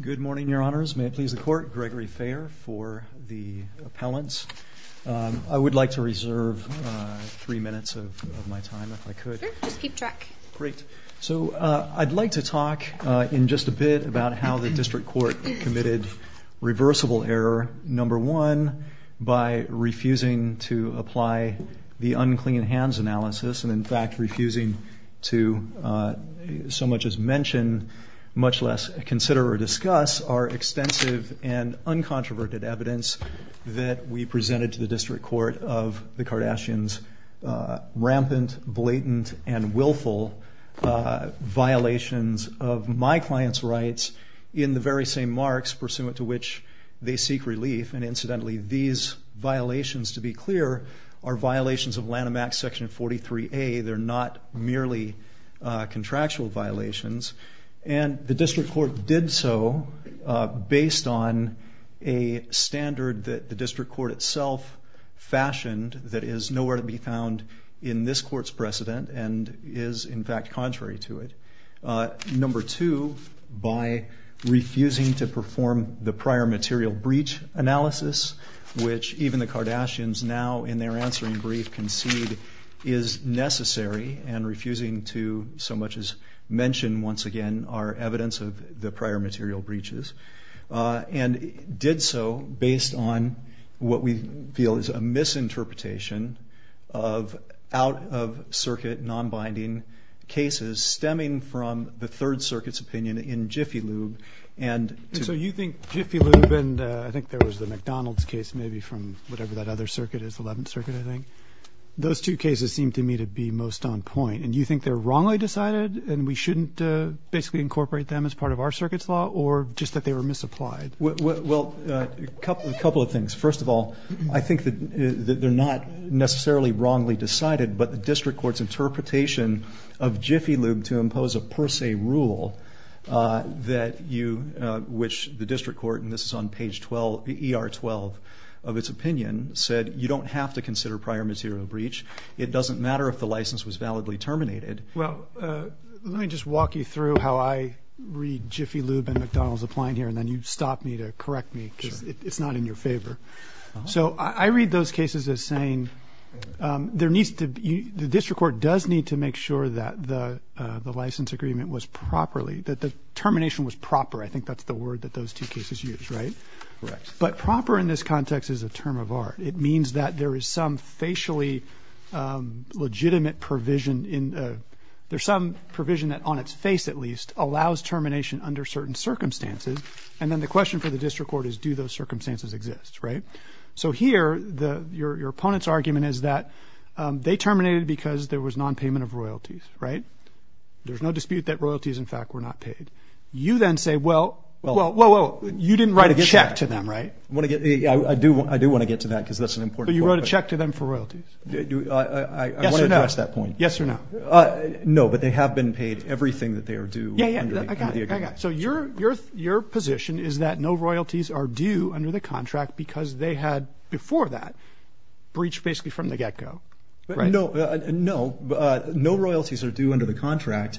Good morning, your honors. May it please the court, Gregory Fair for the appellants. I would like to reserve three minutes of my time, if I could. Sure, just keep track. Great. So I'd like to talk in just a bit about how the district court committed reversible error. Number one, by refusing to apply the unclean hands analysis, and in fact refusing to so much as mention, much less consider or discuss, our extensive and uncontroverted evidence that we presented to the district court of the Kardashians' rampant, blatant, and willful violations of my client's rights in the very same marks pursuant to which they seek relief. And incidentally, these violations, to be clear, are violations of Lanham Act Section 43A. They're not merely contractual violations. And the district court did so based on a standard that the district court itself fashioned that is nowhere to be found in this court's precedent and is, in fact, contrary to it. Number two, by refusing to perform the prior material breach analysis, which even the Kardashians now in their answering brief concede is necessary, and refusing to so much as mention, once again, our evidence of the prior material breaches, and did so based on what we feel is a misinterpretation of out-of-circuit, non-binding cases stemming from the Third Circuit's opinion in Jiffy Lube. And so you think Jiffy Lube, and I think there was the McDonald's case maybe from whatever that other circuit is, Eleventh Circuit, I think, those two cases seem to me to be most on point. And you think they're wrongly decided and we shouldn't basically incorporate them as part of our circuit's law, or just that they were misapplied? Well, a couple of things. First of all, I think that they're not necessarily wrongly decided, but the district court's interpretation of Jiffy Lube to impose a per se rule that you, which the district court, and this is on page 12, ER 12, of its opinion, said you don't have to consider prior material breach. It doesn't matter if the license was validly terminated. Well, let me just walk you through how I read Jiffy Lube and McDonald's applying here, and then you stop me to correct me, because it's not in your favor. So I read those cases as saying there needs to be, the district court does need to make sure that the license agreement was properly, that the termination was proper. I think that's the word that those two cases use, right? Correct. But proper in this context is a term of art. It means that there is some facially legitimate provision in, there's some provision that, on its face at least, allows termination under certain circumstances. And then the question for the district court is, do those circumstances exist, right? So here, your opponent's argument is that they terminated because there was no royalties, in fact, were not paid. You then say, well, you didn't write a check to them, right? I do want to get to that, because that's an important point. But you wrote a check to them for royalties. I want to address that point. Yes or no? No, but they have been paid everything that they are due under the agreement. So your position is that no royalties are due under the contract because they had, before that, breached basically from the get-go, right? No, no. No royalties are due under the contract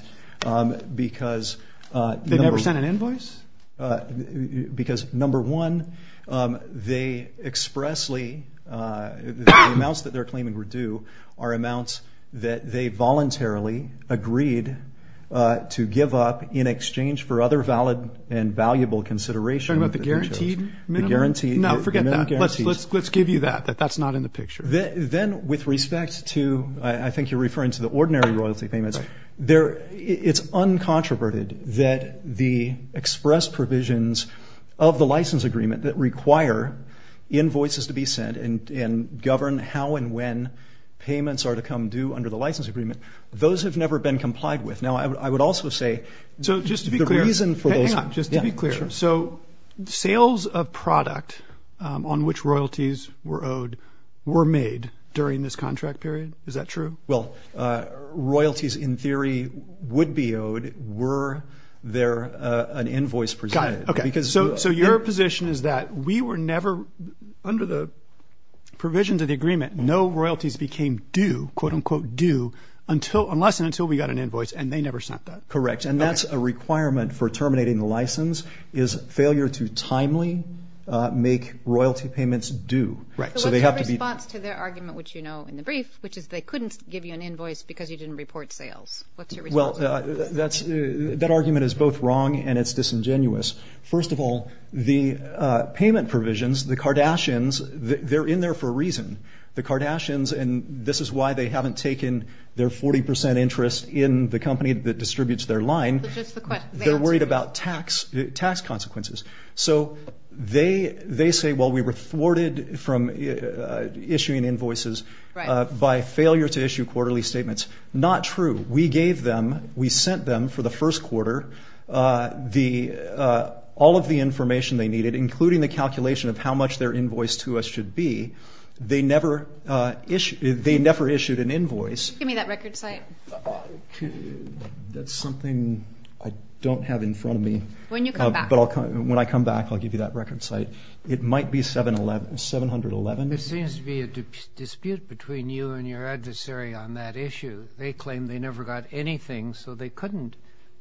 because... They never sent an invoice? Because number one, they expressly, the amounts that they're claiming were due are amounts that they voluntarily agreed to give up in exchange for other valid and valuable consideration of the... You're talking about the guaranteed minimum? The guaranteed minimum. No, forget that. Let's give you that, that that's not in the picture. Then with respect to, I think you're referring to the ordinary royalty payments, it's uncontroverted that the express provisions of the license agreement that require invoices to be sent and govern how and when payments are to come due under the license agreement, those have never been complied with. Now I would also say... So just to be clear, hang on, just to be clear. So sales of product on which royalties were owed were made during this contract period? Is that true? Well, royalties in theory would be owed were there an invoice presented. Got it. Okay. So your position is that we were never, under the provisions of the agreement, no royalties became due, quote unquote due, unless and until we got an invoice and they never sent that? Correct. And that's a requirement for terminating the license is failure to timely make royalty payments due. So what's your response to their argument, which you know in the brief, which is they couldn't give you an invoice because you didn't report sales. Well, that argument is both wrong and it's disingenuous. First of all, the payment provisions, the Kardashians, they're in there for a reason. The Kardashians, and this is why they haven't taken their 40% interest in the company that is their line, they're worried about tax consequences. So they say, well, we were thwarted from issuing invoices by failure to issue quarterly statements. Not true. We gave them, we sent them for the first quarter all of the information they needed, including the calculation of how much their invoice to us should be. They never issued an invoice. Give me that record site. That's something I don't have in front of me. When you come back. When I come back, I'll give you that record site. It might be 711, 711. There seems to be a dispute between you and your adversary on that issue. They claim they never got anything, so they couldn't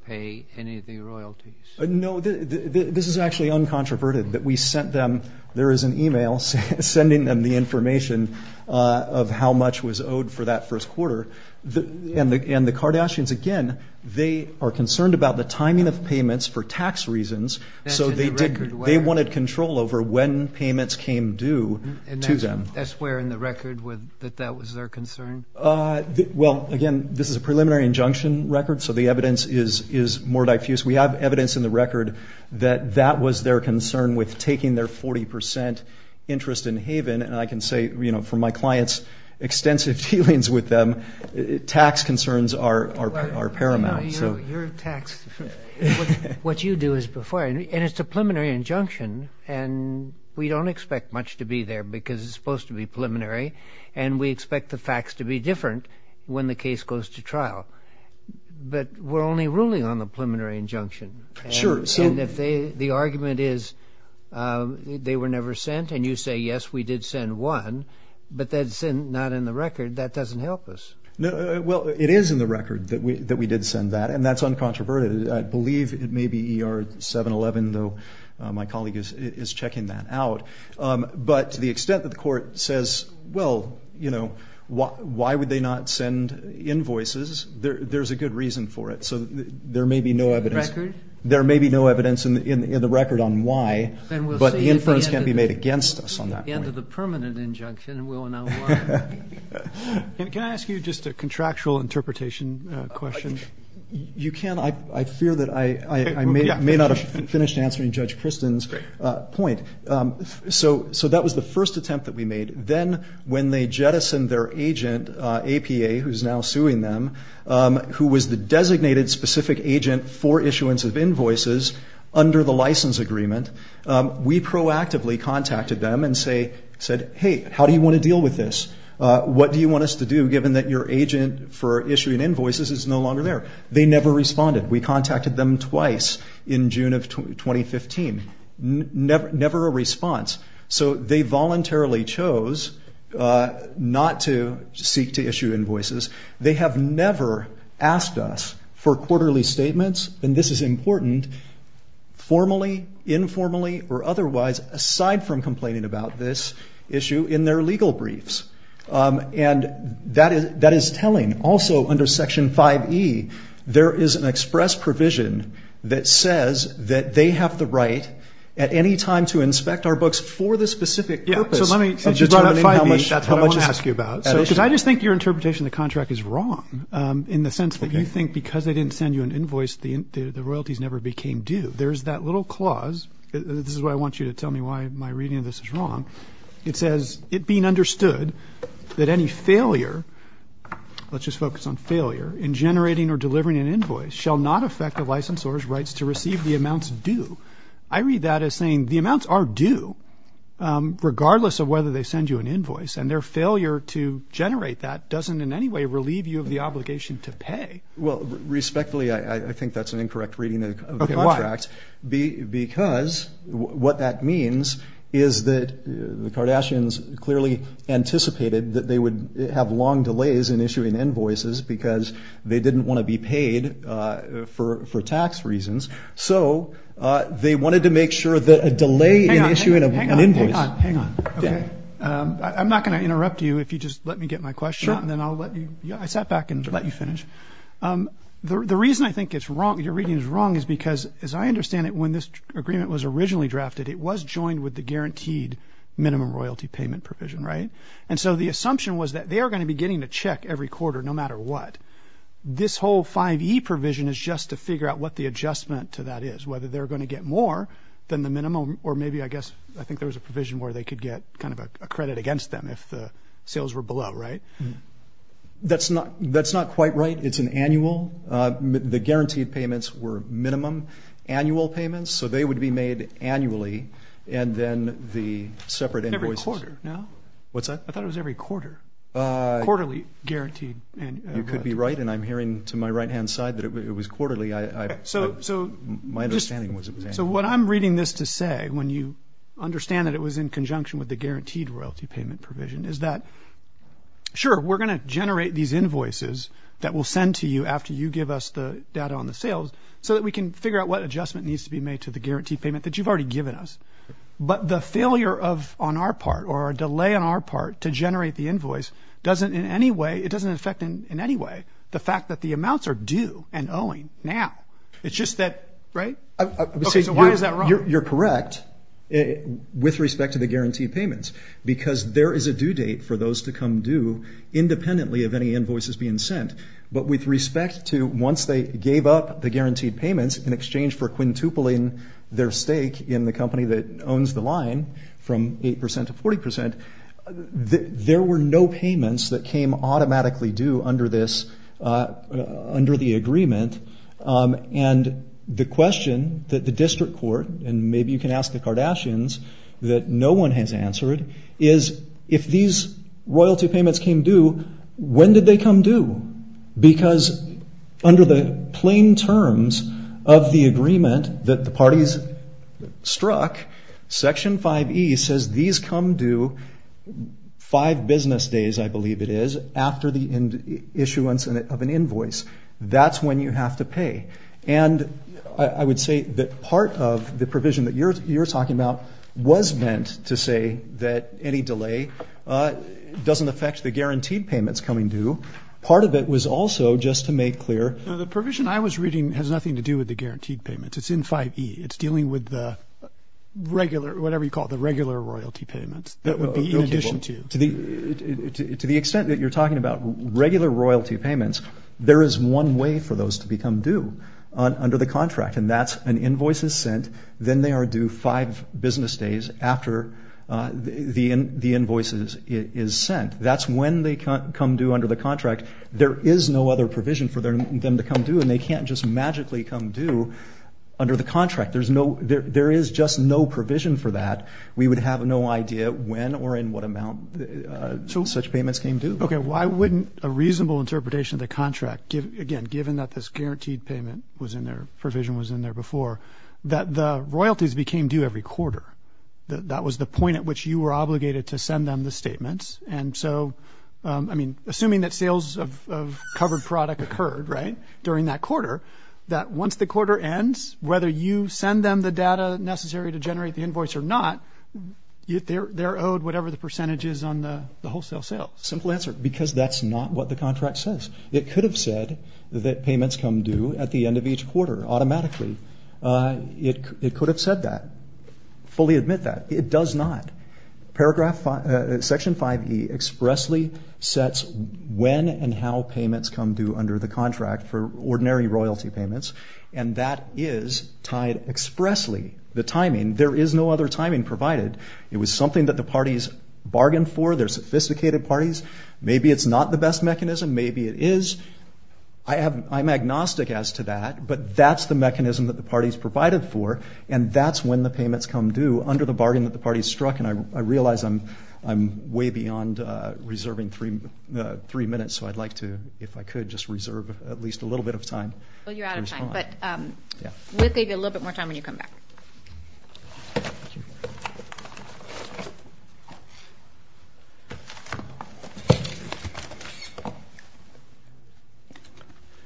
pay any of the royalties. No, this is actually uncontroverted that we sent them, there is an email sending them the information of how much was owed for that first quarter. And the Kardashians, again, they are concerned about the timing of payments for tax reasons, so they wanted control over when payments came due to them. That's where in the record that that was their concern? Well, again, this is a preliminary injunction record, so the evidence is more diffuse. We have evidence in the record that that was their concern with taking their 40% interest in Haven, and I can say from my client's extensive dealings with them, tax concerns are paramount. What you do is before, and it's a preliminary injunction, and we don't expect much to be there because it's supposed to be preliminary, and we expect the facts to be different when the case goes to trial. But we're only ruling on the preliminary injunction. And if the argument is they were never sent, and you say, yes, we did send one, but that's not in the record, that doesn't help us. Well, it is in the record that we did send that, and that's uncontroverted. I believe it may be ER 711, though my colleague is checking that out. But to the extent that the court says, well, why would they not send invoices, there's a good reason for it. So there may be no evidence in the record on why, but the inference can't be made against us on that point. At the end of the permanent injunction, we'll know why. Can I ask you just a contractual interpretation question? You can. I fear that I may not have finished answering Judge Kristen's point. So that was the first attempt that we made. Then when they jettisoned their agent, APA, who's now suing them, who was the designated specific agent for issuance of invoices under the license agreement, we proactively contacted them and said, hey, how do you want to deal with this? What do you want us to do, given that your agent for issuing invoices is no longer there? They never responded. We contacted them twice in June of 2015. Never a response. So they voluntarily chose not to seek to issue invoices. They have never asked us for quarterly statements, and this is important, formally, informally, or otherwise, aside from complaining about this issue in their legal briefs. And that is telling. Also under Section 5E, there is an express provision that says that they have the right at any time to inspect our books for the specific purpose of determining how much that's how much to ask you about. Because I just think your interpretation of the contract is wrong, in the sense that you think because they didn't send you an invoice, the royalties never became due. There's that little clause. This is why I want you to tell me why my reading of this is wrong. It says, it being understood that any failure, let's just focus on failure, in generating or delivering an invoice shall not affect the licensor's rights to receive the amounts due. I read that as saying, the amounts are due, regardless of whether they send you an invoice. And their failure to generate that doesn't in any way relieve you of the obligation to pay. Well, respectfully, I think that's an incorrect reading of the contract. Because what that means is that the Kardashians clearly anticipated that they would have long delays in issuing invoices because they didn't want to be paid for tax reasons. So, they wanted to make sure that a delay in issuing an invoice... Hang on, hang on, hang on. I'm not going to interrupt you if you just let me get my question out and then I'll let you... I sat back and let you finish. The reason I think it's wrong, your reading is wrong, is because, as I understand it, when this agreement was originally drafted, it was joined with the guaranteed minimum royalty payment provision, right? And so the assumption was that they are going to be getting a check every quarter, no matter what. This whole 5E provision is just to figure out what the adjustment to that is, whether they're going to get more than the minimum, or maybe, I guess, I think there was a provision where they could get kind of a credit against them if the sales were below, right? That's not quite right. It's an annual. The guaranteed payments were minimum annual payments, so they would be made annually. And then the separate invoices... Every quarter, no? What's that? I thought it was every quarter. Quarterly guaranteed. You could be right, and I'm hearing to my right-hand side that it was quarterly. My understanding was it was annually. So what I'm reading this to say, when you understand that it was in conjunction with the guaranteed royalty payment provision, is that, sure, we're going to generate these invoices that we'll send to you after you give us the data on the sales, so that we can figure out what adjustment needs to be made to the guaranteed payment that you've already given us. But the failure on our part, or delay on our part, to generate the invoice doesn't in any way affect the fact that the amounts are due and owing now. It's just that... Right? So why is that wrong? You're correct with respect to the guaranteed payments, because there is a due date for those to come due independently of any invoices being sent. But with respect to once they gave up the guaranteed payments in exchange for quintupling their stake in the company that owns the line from 8% to 40%, there were no payments that came automatically due under the agreement. And the question that the district court, and maybe you can ask the Kardashians, that no one has answered, is if these royalty payments came due, when did they come due? Because under the plain terms of the agreement that the parties struck, Section 5E says these come due five business days, I believe it is, after the issuance of an invoice. That's when you have to pay. And I would say that part of the provision that you're talking about was meant to say that any delay doesn't affect the guaranteed payments coming due. Part of it was also, just to make clear... No, the provision I was reading has nothing to do with the guaranteed payments. It's in 5E. It's dealing with the regular, whatever you call it, the regular royalty payments that would be in addition to... To the extent that you're talking about regular royalty payments, there is one way for those to become due under the contract, and that's an invoice is sent, then they are due five business days after the invoice is sent. That's when they come due under the contract. There is no other provision for them to come due, and they can't just magically come due under the contract. There is just no provision for that. We would have no idea when or in what amount such payments came due. Okay. Why wouldn't a reasonable interpretation of the contract, again, given that this guaranteed payment was in there, provision was in there before, that the royalties became due every quarter? That was the point at which you were obligated to send them the statements. And so, I mean, assuming that sales of covered product occurred, right, during that quarter, that once the quarter ends, whether you send them the data necessary to generate the invoice or not, they're owed whatever the percentage is on the wholesale sales. Simple answer. Because that's not what the contract says. It could have said that payments come due at the end of each quarter automatically. It could have said that, fully admit that. It does not. Section 5E expressly sets when and how payments come due under the contract for ordinary royal royalty payments, and that is tied expressly. The timing. There is no other timing provided. It was something that the parties bargained for. They're sophisticated parties. Maybe it's not the best mechanism. Maybe it is. I'm agnostic as to that, but that's the mechanism that the parties provided for, and that's when the payments come due under the bargain that the parties struck. And I realize I'm way beyond reserving three minutes, so I'd like to, if I could, just respond. Well, you're out of time, but we'll give you a little bit more time when you come back.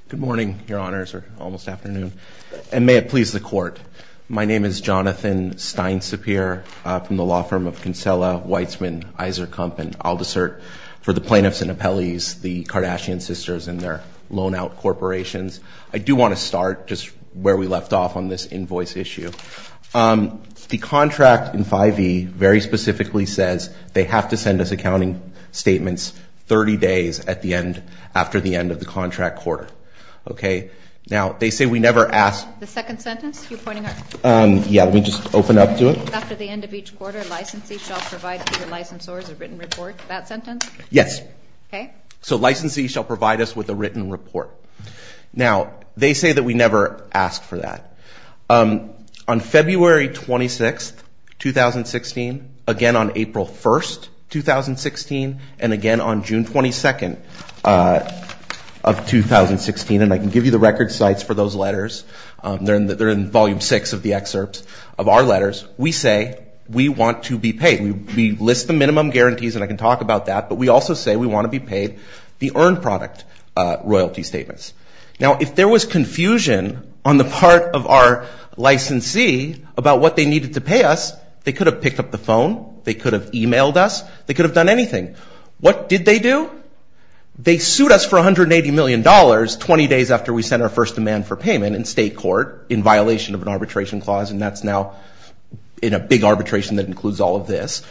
Good morning, your honors, or almost afternoon, and may it please the court. My name is Jonathan Stein-Sapir from the law firm of Kinsella, Weitzman, Iserkamp, and Aldisert. For the plaintiffs and appellees, the Kardashian sisters and their loan-out corporations, I do want to start just where we left off on this invoice issue. The contract in 5E very specifically says they have to send us accounting statements 30 days at the end, after the end of the contract quarter. Okay? Now, they say we never ask. The second sentence you're pointing out? Yeah, let me just open up to it. After the end of each quarter, licensee shall provide to the licensors a written report. That sentence? Yes. Okay. So licensee shall provide us with a written report. Now, they say that we never ask for that. On February 26, 2016, again on April 1, 2016, and again on June 22 of 2016, and I can give you the record sites for those letters, they're in volume 6 of the excerpts of our letters, we say we want to be paid. We list the minimum guarantees, and I can talk about that, but we also say we want to be paid the earned product royalty statements. Now, if there was confusion on the part of our licensee about what they needed to pay us, they could have picked up the phone, they could have emailed us, they could have done anything. What did they do? They sued us for $180 million 20 days after we sent our first demand for payment in state court in violation of an arbitration clause, and that's now in a big arbitration that includes all of this.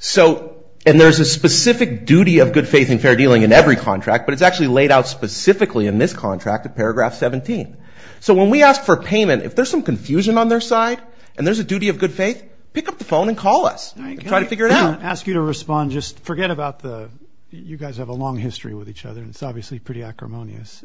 So, and there's a specific duty of good faith and fair dealing in every contract, but it's actually laid out specifically in this contract at paragraph 17. So when we ask for payment, if there's some confusion on their side, and there's a duty of good faith, pick up the phone and call us. Try to figure it out. I'm going to ask you to respond, just forget about the, you guys have a long history with each other, and it's obviously pretty acrimonious.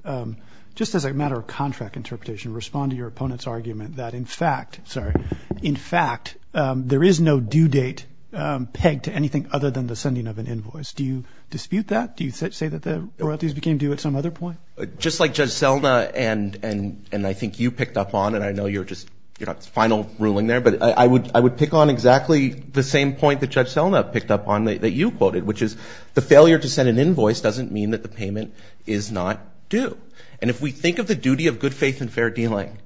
Just as a matter of contract interpretation, respond to your opponent's argument that in fact, sorry, in fact, there is no due date pegged to anything other than the sending of an invoice. Do you dispute that? Do you say that the royalties became due at some other point? Just like Judge Selna and I think you picked up on, and I know you're just, you know, final ruling there, but I would pick on exactly the same point that Judge Selna picked up on that you quoted, which is the failure to send an invoice doesn't mean that the payment is not due. And if we think of the duty of good faith and fair dealing,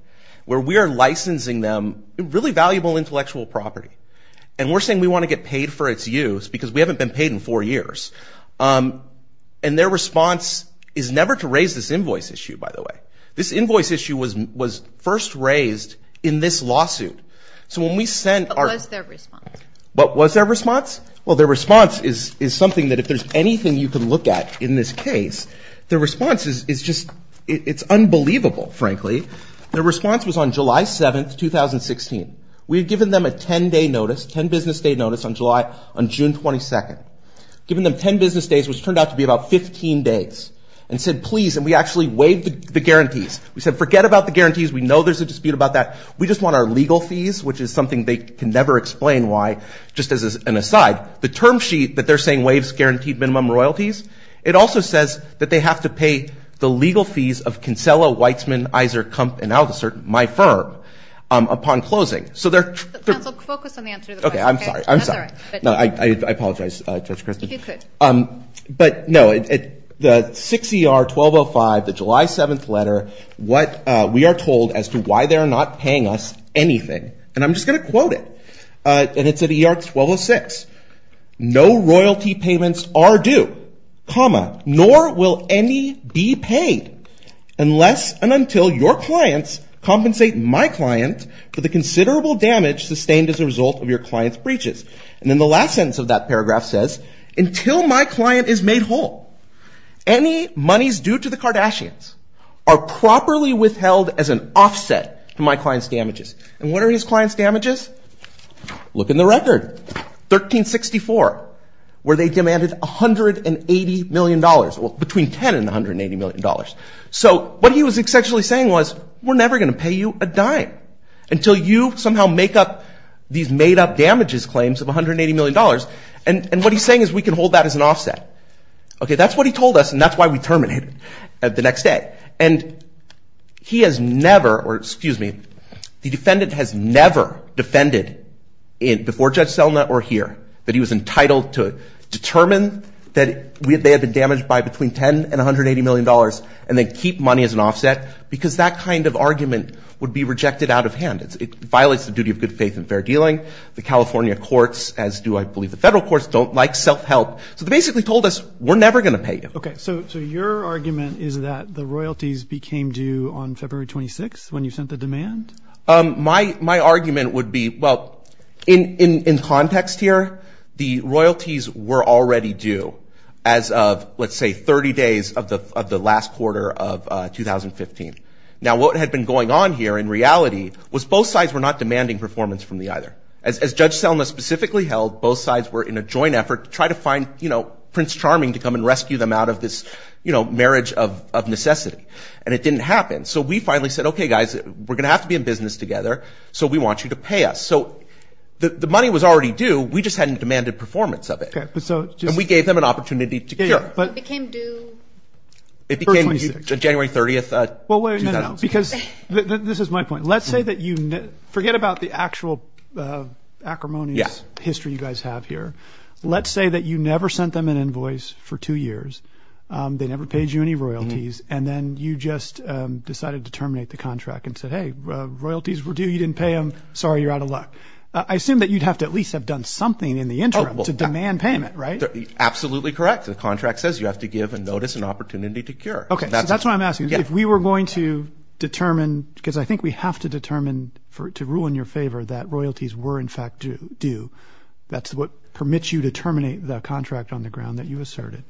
where we are licensing them really valuable intellectual property, and we're saying we want to get paid for its use because we haven't been paid in four years, and their response is never to raise this invoice issue, by the way. This invoice issue was first raised in this lawsuit. So when we sent our- What was their response? What was their response? Well, their response is something that if there's anything you can look at in this case, their response is just, it's unbelievable, frankly. Their response was on July 7th, 2016. We had given them a 10-day notice, 10 business day notice on July, on June 22nd. Given them 10 business days, which turned out to be about 15 days, and said, please, and we actually waived the guarantees. We said, forget about the guarantees. We know there's a dispute about that. We just want our legal fees, which is something they can never explain why, just as an aside, the term sheet that they're saying waives guaranteed minimum royalties. It also says that they have to pay the legal fees of Kinsella, Weitzman, Iser, Kump, and Aldisert, my firm, upon closing. So they're- Counsel, focus on the answer to the question. Okay, I'm sorry. That's all right. I'm sorry. No, I apologize, Judge Kristen. If you could. But no, the 6 ER 1205, the July 7th letter, what we are told as to why they're not paying us anything, and I'm just going to quote it, and it's at ER 1206. No royalty payments are due, comma, nor will any be paid unless and until your clients compensate my client for the considerable damage sustained as a result of your client's breaches. And then the last sentence of that paragraph says, until my client is made whole, any monies due to the Kardashians are properly withheld as an offset to my client's damages. And what are his client's damages? Look in the record. 1364, where they demanded $180 million, between $10 and $180 million. So what he was essentially saying was, we're never going to pay you a dime until you somehow make up these made-up damages claims of $180 million, and what he's saying is we can hold that as an offset. Okay, that's what he told us, and that's why we terminated the next day. And he has never, or excuse me, the defendant has never defended before Judge Selna or here that he was entitled to determine that they had been damaged by between $10 and $180 million and then keep money as an offset, because that kind of argument would be rejected out of hand. It violates the duty of good faith and fair dealing. The California courts, as do I believe the federal courts, don't like self-help. So they basically told us, we're never going to pay you. Okay, so your argument is that the royalties became due on February 26th when you sent the demand? My argument would be, well, in context here, the royalties were already due as of, let's say, 30 days of the last quarter of 2015. Now what had been going on here in reality was both sides were not demanding performance from me either. As Judge Selna specifically held, both sides were in a joint effort to try to find Prince Charming to come and rescue them out of this marriage of necessity, and it didn't happen. So we finally said, okay, guys, we're going to have to be in business together, so we want you to pay us. So the money was already due, we just hadn't demanded performance of it, and we gave them an opportunity to cure. It became due on January 30th, 2015. Because this is my point. Let's say that you, forget about the actual acrimonious history you guys have here. Let's say that you never sent them an invoice for two years, they never paid you any royalties, and then you just decided to terminate the contract and said, hey, royalties were due, you didn't pay them, sorry, you're out of luck. I assume that you'd have to at least have done something in the interim to demand payment, right? Absolutely correct. The contract says you have to give a notice and opportunity to cure. Okay, so that's what I'm asking. If we were going to determine, because I think we have to determine to rule in your favor that royalties were in fact due, that's what permits you to terminate the contract on the ground that you asserted.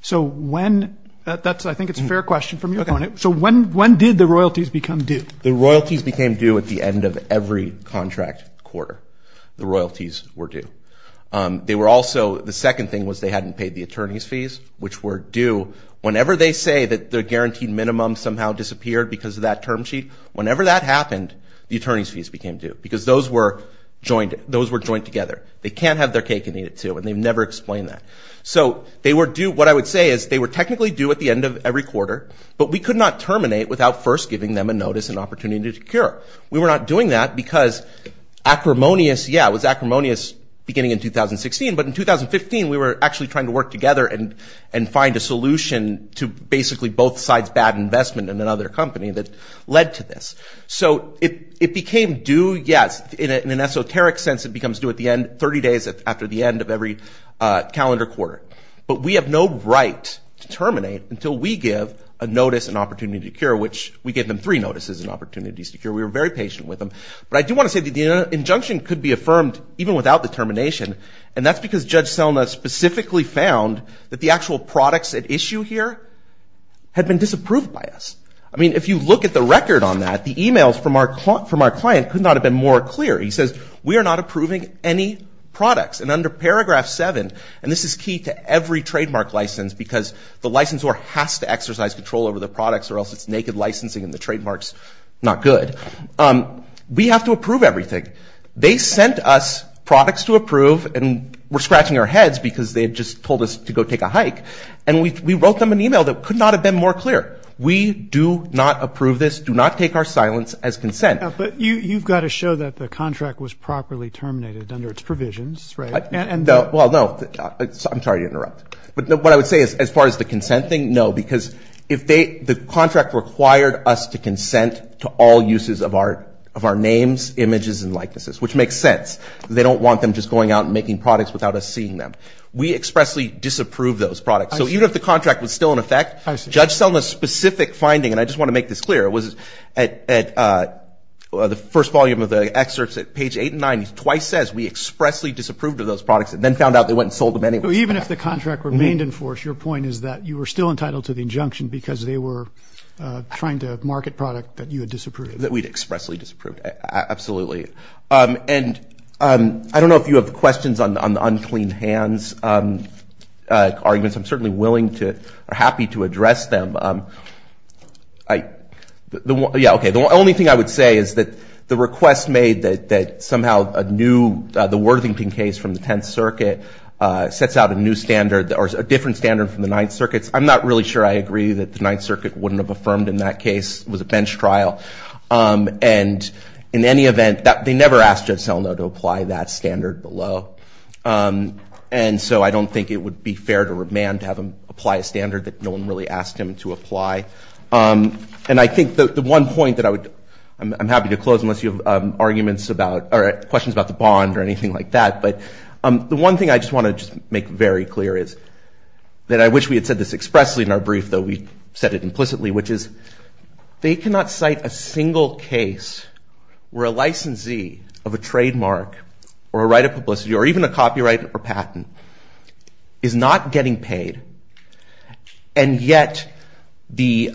So when, I think it's a fair question from your point of view, so when did the royalties become due? The royalties became due at the end of every contract quarter. The royalties were due. They were also, the second thing was they hadn't paid the attorney's fees, which were due. Whenever they say that the guaranteed minimum somehow disappeared because of that term sheet, whenever that happened, the attorney's fees became due because those were joined together. They can't have their cake and eat it too, and they've never explained that. So they were due, what I would say is they were technically due at the end of every quarter, but we could not terminate without first giving them a notice and opportunity to cure. We were not doing that because acrimonious, yeah, it was acrimonious beginning in 2016, but in 2015 we were actually trying to work together and find a solution to basically both sides' bad investment in another company that led to this. So it became due, yes, in an esoteric sense it becomes due at the end, 30 days after the end of every calendar quarter. But we have no right to terminate until we give a notice and opportunity to cure, which we gave them three notices and opportunities to cure. We were very patient with them. But I do want to say that the injunction could be affirmed even without the termination, and that's because Judge Selma specifically found that the actual products at issue here had been disapproved by us. I mean, if you look at the record on that, the emails from our client could not have been more clear. He says, we are not approving any products, and under paragraph seven, and this is key to every trademark license because the licensor has to exercise control over the products or else it's naked licensing and the trademark's not good. We have to approve everything. They sent us products to approve, and we're scratching our heads because they had just told us to go take a hike, and we wrote them an email that could not have been more clear. We do not approve this, do not take our silence as consent. But you've got to show that the contract was properly terminated under its provisions, right? Well, no. I'm sorry to interrupt. But what I would say as far as the consent thing, no, because if they, the contract required us to consent to all uses of our names, images, and likenesses, which makes sense. They don't want them just going out and making products without us seeing them. We expressly disapproved those products. So even if the contract was still in effect, Judge Selma's specific finding, and I just want to make this clear, it was at the first volume of the excerpts at page eight and nine, he twice says, we expressly disapproved of those products and then found out they went and sold them anyway. So even if the contract remained in force, your point is that you were still entitled to the injunction because they were trying to market product that you had disapproved of. That we'd expressly disapproved. Absolutely. And I don't know if you have questions on the unclean hands arguments. I'm certainly willing to, or happy to address them. Yeah, okay. The only thing I would say is that the request made that somehow a new, the Worthington case from the Tenth Circuit sets out a new standard, or a different standard from the Ninth Circuit's, I'm not really sure I agree that the Ninth Circuit wouldn't have affirmed in that case. It was a bench trial. And in any event, they never asked Judge Selma to apply that standard below. And so I don't think it would be fair to remand, to have him apply a standard that no one really asked him to apply. And I think the one point that I would, I'm happy to close unless you have arguments about, or questions about the bond or anything like that, but the one thing I just want to just make very clear is that I wish we had said this expressly in our brief, though we said it implicitly, which is they cannot cite a single case where a licensee of a trademark or a right of publicity, or even a copyright or patent, is not getting paid, and yet the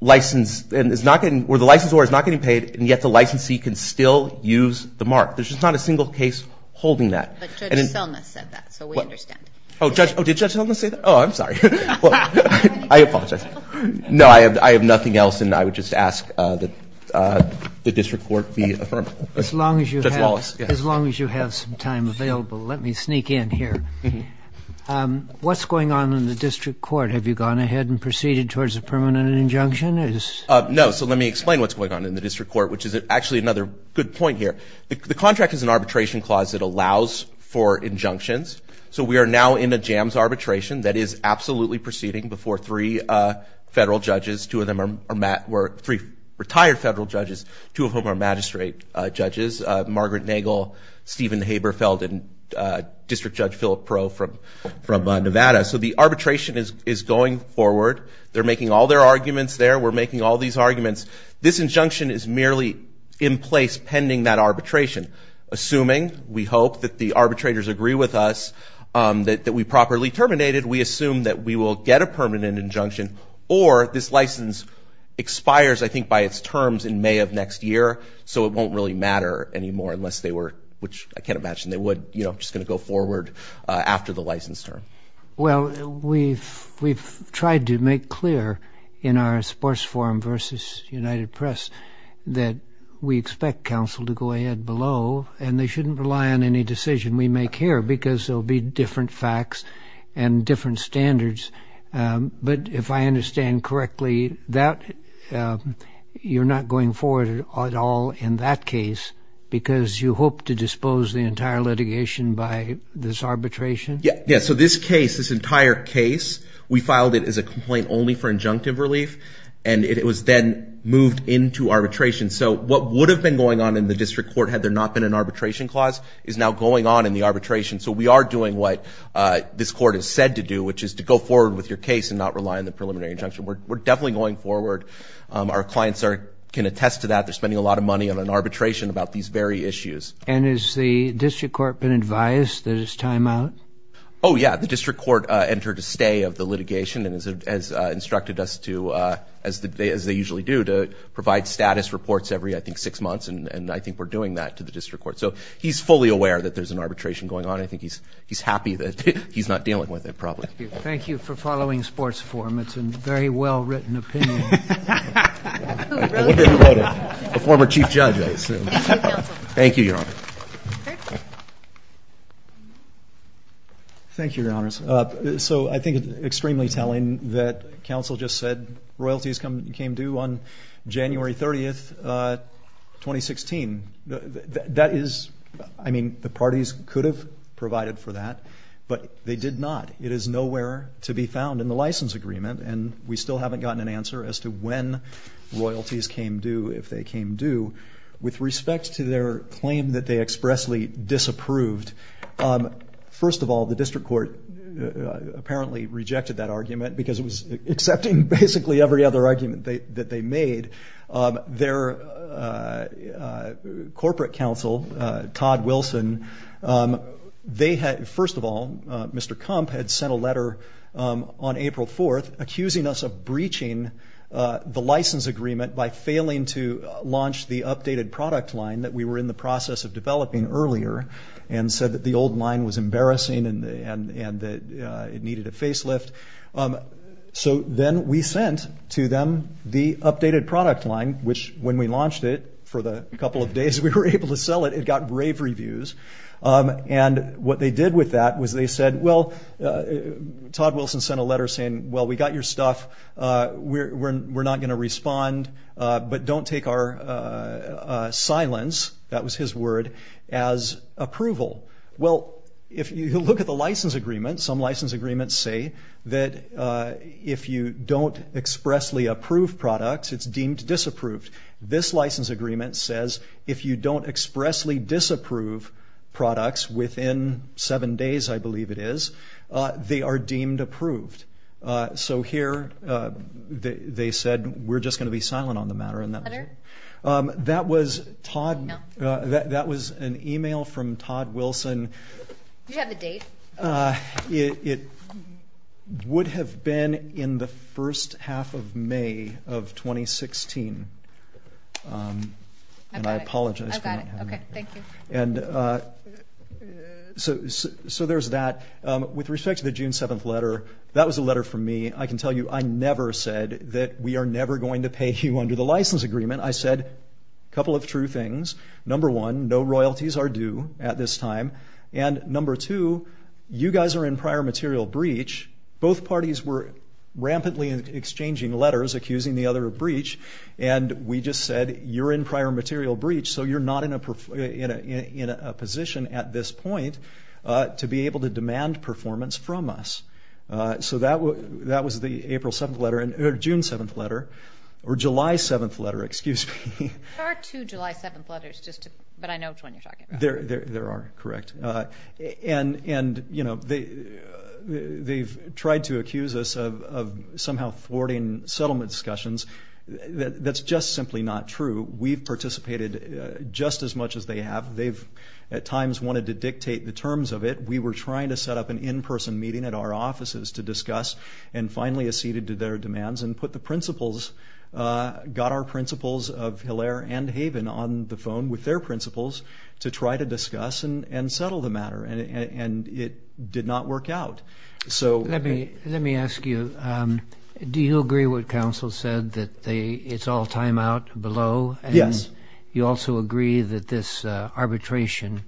license, and is not getting, or the licensure is not getting paid, and yet the licensee can still use the mark. There's just not a single case holding that. But Judge Selma said that, so we understand. Oh, did Judge Selma say that? Oh, I'm sorry. I apologize. No, I have nothing else, and I would just ask that the district court be affirmed. As long as you have some time available, let me sneak in here. What's going on in the district court? Have you gone ahead and proceeded towards a permanent injunction? No, so let me explain what's going on in the district court, which is actually another good point here. The contract is an arbitration clause that allows for injunctions, so we are now in a jams arbitration that is absolutely proceeding before three federal judges. Two of them are retired federal judges, two of whom are magistrate judges, Margaret Nagel, Stephen Haberfeld, and District Judge Philip Perot from Nevada. So the arbitration is going forward. They're making all their arguments there. We're making all these arguments. This injunction is merely in place pending that arbitration, assuming, we hope, that the arbitrators agree with us that we properly terminated. We assume that we will get a permanent injunction, or this license expires, I think, by its terms in May of next year, so it won't really matter anymore unless they were, which I can't imagine they would, you know, just going to go forward after the license term. Well, we've tried to make clear in our sports forum versus United Press that we expect counsel to go ahead below, and they shouldn't rely on any decision we make here because there will be different facts and different standards, but if I understand correctly, you're not going forward at all in that case because you hope to dispose the entire litigation by this arbitration? Yeah, so this case, this entire case, we filed it as a complaint only for injunctive relief, and it was then moved into arbitration. So what would have been going on in the district court had there not been an arbitration clause is now going on in the arbitration, so we are doing what this court is said to do, which is to go forward with your case and not rely on the preliminary injunction. We're definitely going forward. Our clients can attest to that. They're spending a lot of money on an arbitration about these very issues. And has the district court been advised that it's time out? Oh, yeah. The district court entered a stay of the litigation and has instructed us to, as they usually do, to provide status reports every, I think, six months, and I think we're doing that to the district court. So he's fully aware that there's an arbitration going on. I think he's happy that he's not dealing with it, probably. Thank you for following sports forum. It's a very well-written opinion. A former chief judge, I assume. Thank you, Your Honor. Thank you, Your Honors. So, I think it's extremely telling that counsel just said royalties came due on January 30, 2016. That is, I mean, the parties could have provided for that, but they did not. It is nowhere to be found in the license agreement, and we still haven't gotten an answer as to when royalties came due, if they came due. With respect to their claim that they expressly disapproved, first of all, the district court apparently rejected that argument because it was accepting basically every other argument that they made. Their corporate counsel, Todd Wilson, they had, first of all, Mr. Kump had sent a letter on April 4, accusing us of breaching the license agreement by failing to launch the updated product line that we were in the process of developing earlier, and said that the old line was embarrassing and that it needed a facelift. So then we sent to them the updated product line, which when we launched it, for the couple of days we were able to sell it, it got rave reviews. And what they did with that was they said, well, Todd Wilson sent a letter saying, well, we got your stuff, we're not going to respond, but don't take our silence, that was his word, as approval. Well, if you look at the license agreement, some license agreements say that if you don't expressly approve products, it's deemed disapproved. This license agreement says if you don't expressly disapprove products within seven days, I believe it is, they are deemed approved. So here they said, we're just going to be silent on the matter. That was Todd, that was an email from Todd Wilson, it would have been in the first half of May of 2016, and I apologize for not having that. I got it, okay, thank you. So there's that. With respect to the June 7th letter, that was a letter from me, I can tell you I never said that we are never going to pay you under the license agreement, I said a couple of true things, number one, no royalties are due at this time, and number two, you guys are in prior material breach. Both parties were rampantly exchanging letters accusing the other of breach, and we just said you're in prior material breach, so you're not in a position at this point to be able to demand performance from us. So that was the April 7th letter, or June 7th letter, or July 7th letter, excuse me. There are two July 7th letters, but I know which one you're talking about. There are, correct. And, you know, they've tried to accuse us of somehow thwarting settlement discussions. That's just simply not true. We've participated just as much as they have. They've at times wanted to dictate the terms of it. We were trying to set up an in-person meeting at our offices to discuss, and finally acceded to their demands and put the principals, got our principals of Hilaire and Haven on the principles, to try to discuss and settle the matter, and it did not work out. So let me ask you, do you agree with what counsel said, that it's all time out below? Yes. You also agree that this arbitration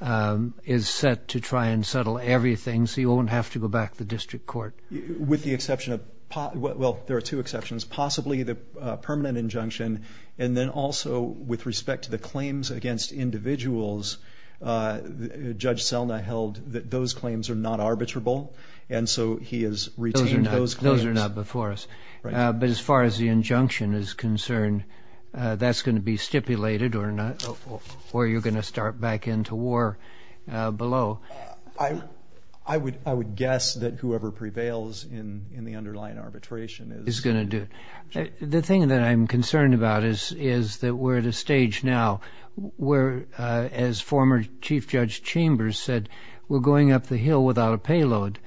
is set to try and settle everything so you won't have to go back to the district court? With the exception of, well, there are two exceptions, possibly the permanent injunction, and then also with respect to the claims against individuals, Judge Selna held that those claims are not arbitrable, and so he has retained those claims. Those are not before us. Right. But as far as the injunction is concerned, that's going to be stipulated or you're going to start back into war below? I would guess that whoever prevails in the underlying arbitration is going to do it. The thing that I'm concerned about is that we're at a stage now where, as former Chief Judge Chambers said, we're going up the hill without a payload.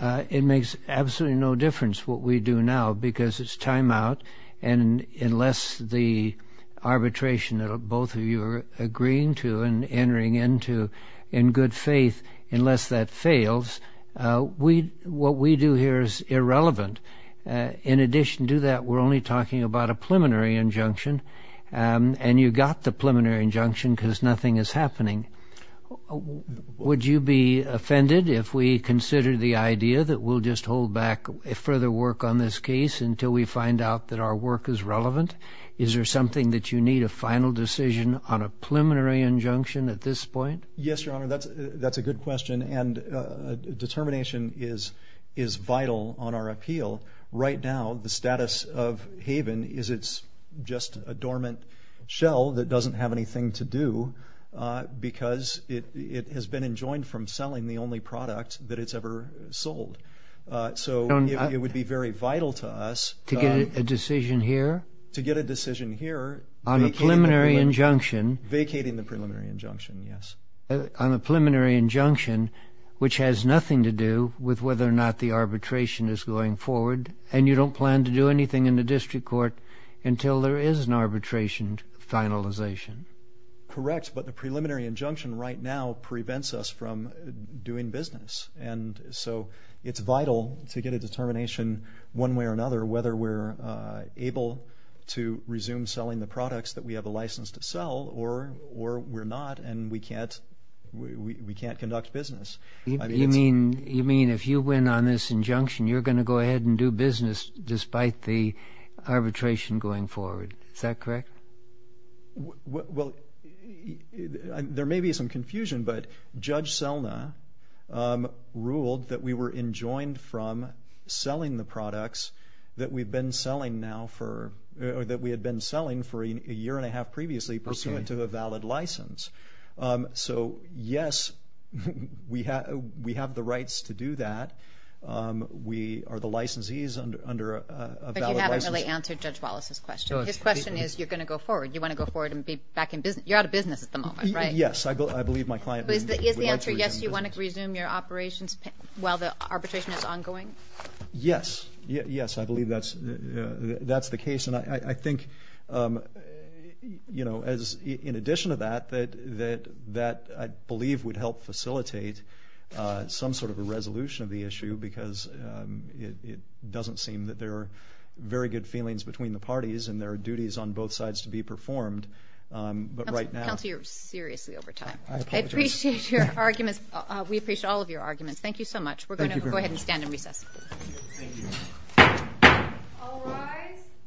It makes absolutely no difference what we do now because it's time out, and unless the arbitration that both of you are agreeing to and entering into in good faith, unless that fails, what we do here is irrelevant. In addition to that, we're only talking about a preliminary injunction, and you got the preliminary injunction because nothing is happening. Would you be offended if we considered the idea that we'll just hold back further work on this case until we find out that our work is relevant? Is there something that you need, a final decision on a preliminary injunction at this point? Yes, Your Honor. That's a good question, and determination is vital on our appeal. Right now, the status of Haven is it's just a dormant shell that doesn't have anything to do because it has been enjoined from selling the only product that it's ever sold. It would be very vital to us- To get a decision here? To get a decision here, vacating the preliminary injunction, yes. On the preliminary injunction, which has nothing to do with whether or not the arbitration is going forward, and you don't plan to do anything in the district court until there is an arbitration finalization. Correct, but the preliminary injunction right now prevents us from doing business. It's vital to get a determination one way or another whether we're able to resume selling the products that we have a license to sell or we're not and we can't conduct business. You mean if you win on this injunction, you're going to go ahead and do business despite the arbitration going forward, is that correct? There may be some confusion, but Judge Selna ruled that we were enjoined from selling the for a year and a half previously pursuant to a valid license. So yes, we have the rights to do that. We are the licensees under a valid license. But you haven't really answered Judge Wallace's question. His question is, you're going to go forward. You want to go forward and be back in business. You're out of business at the moment, right? Yes, I believe my client would like to resume business. Is the answer yes, you want to resume your operations while the arbitration is ongoing? Yes, I believe that's the case. And I think, you know, in addition to that, that I believe would help facilitate some sort of a resolution of the issue because it doesn't seem that there are very good feelings between the parties and there are duties on both sides to be performed. But right now... Counselor, you're seriously over time. I apologize. I appreciate your arguments. We appreciate all of your arguments. Thank you so much. Thank you very much. We're going to go ahead and stand and recess. Thank you. All rise. Thank you.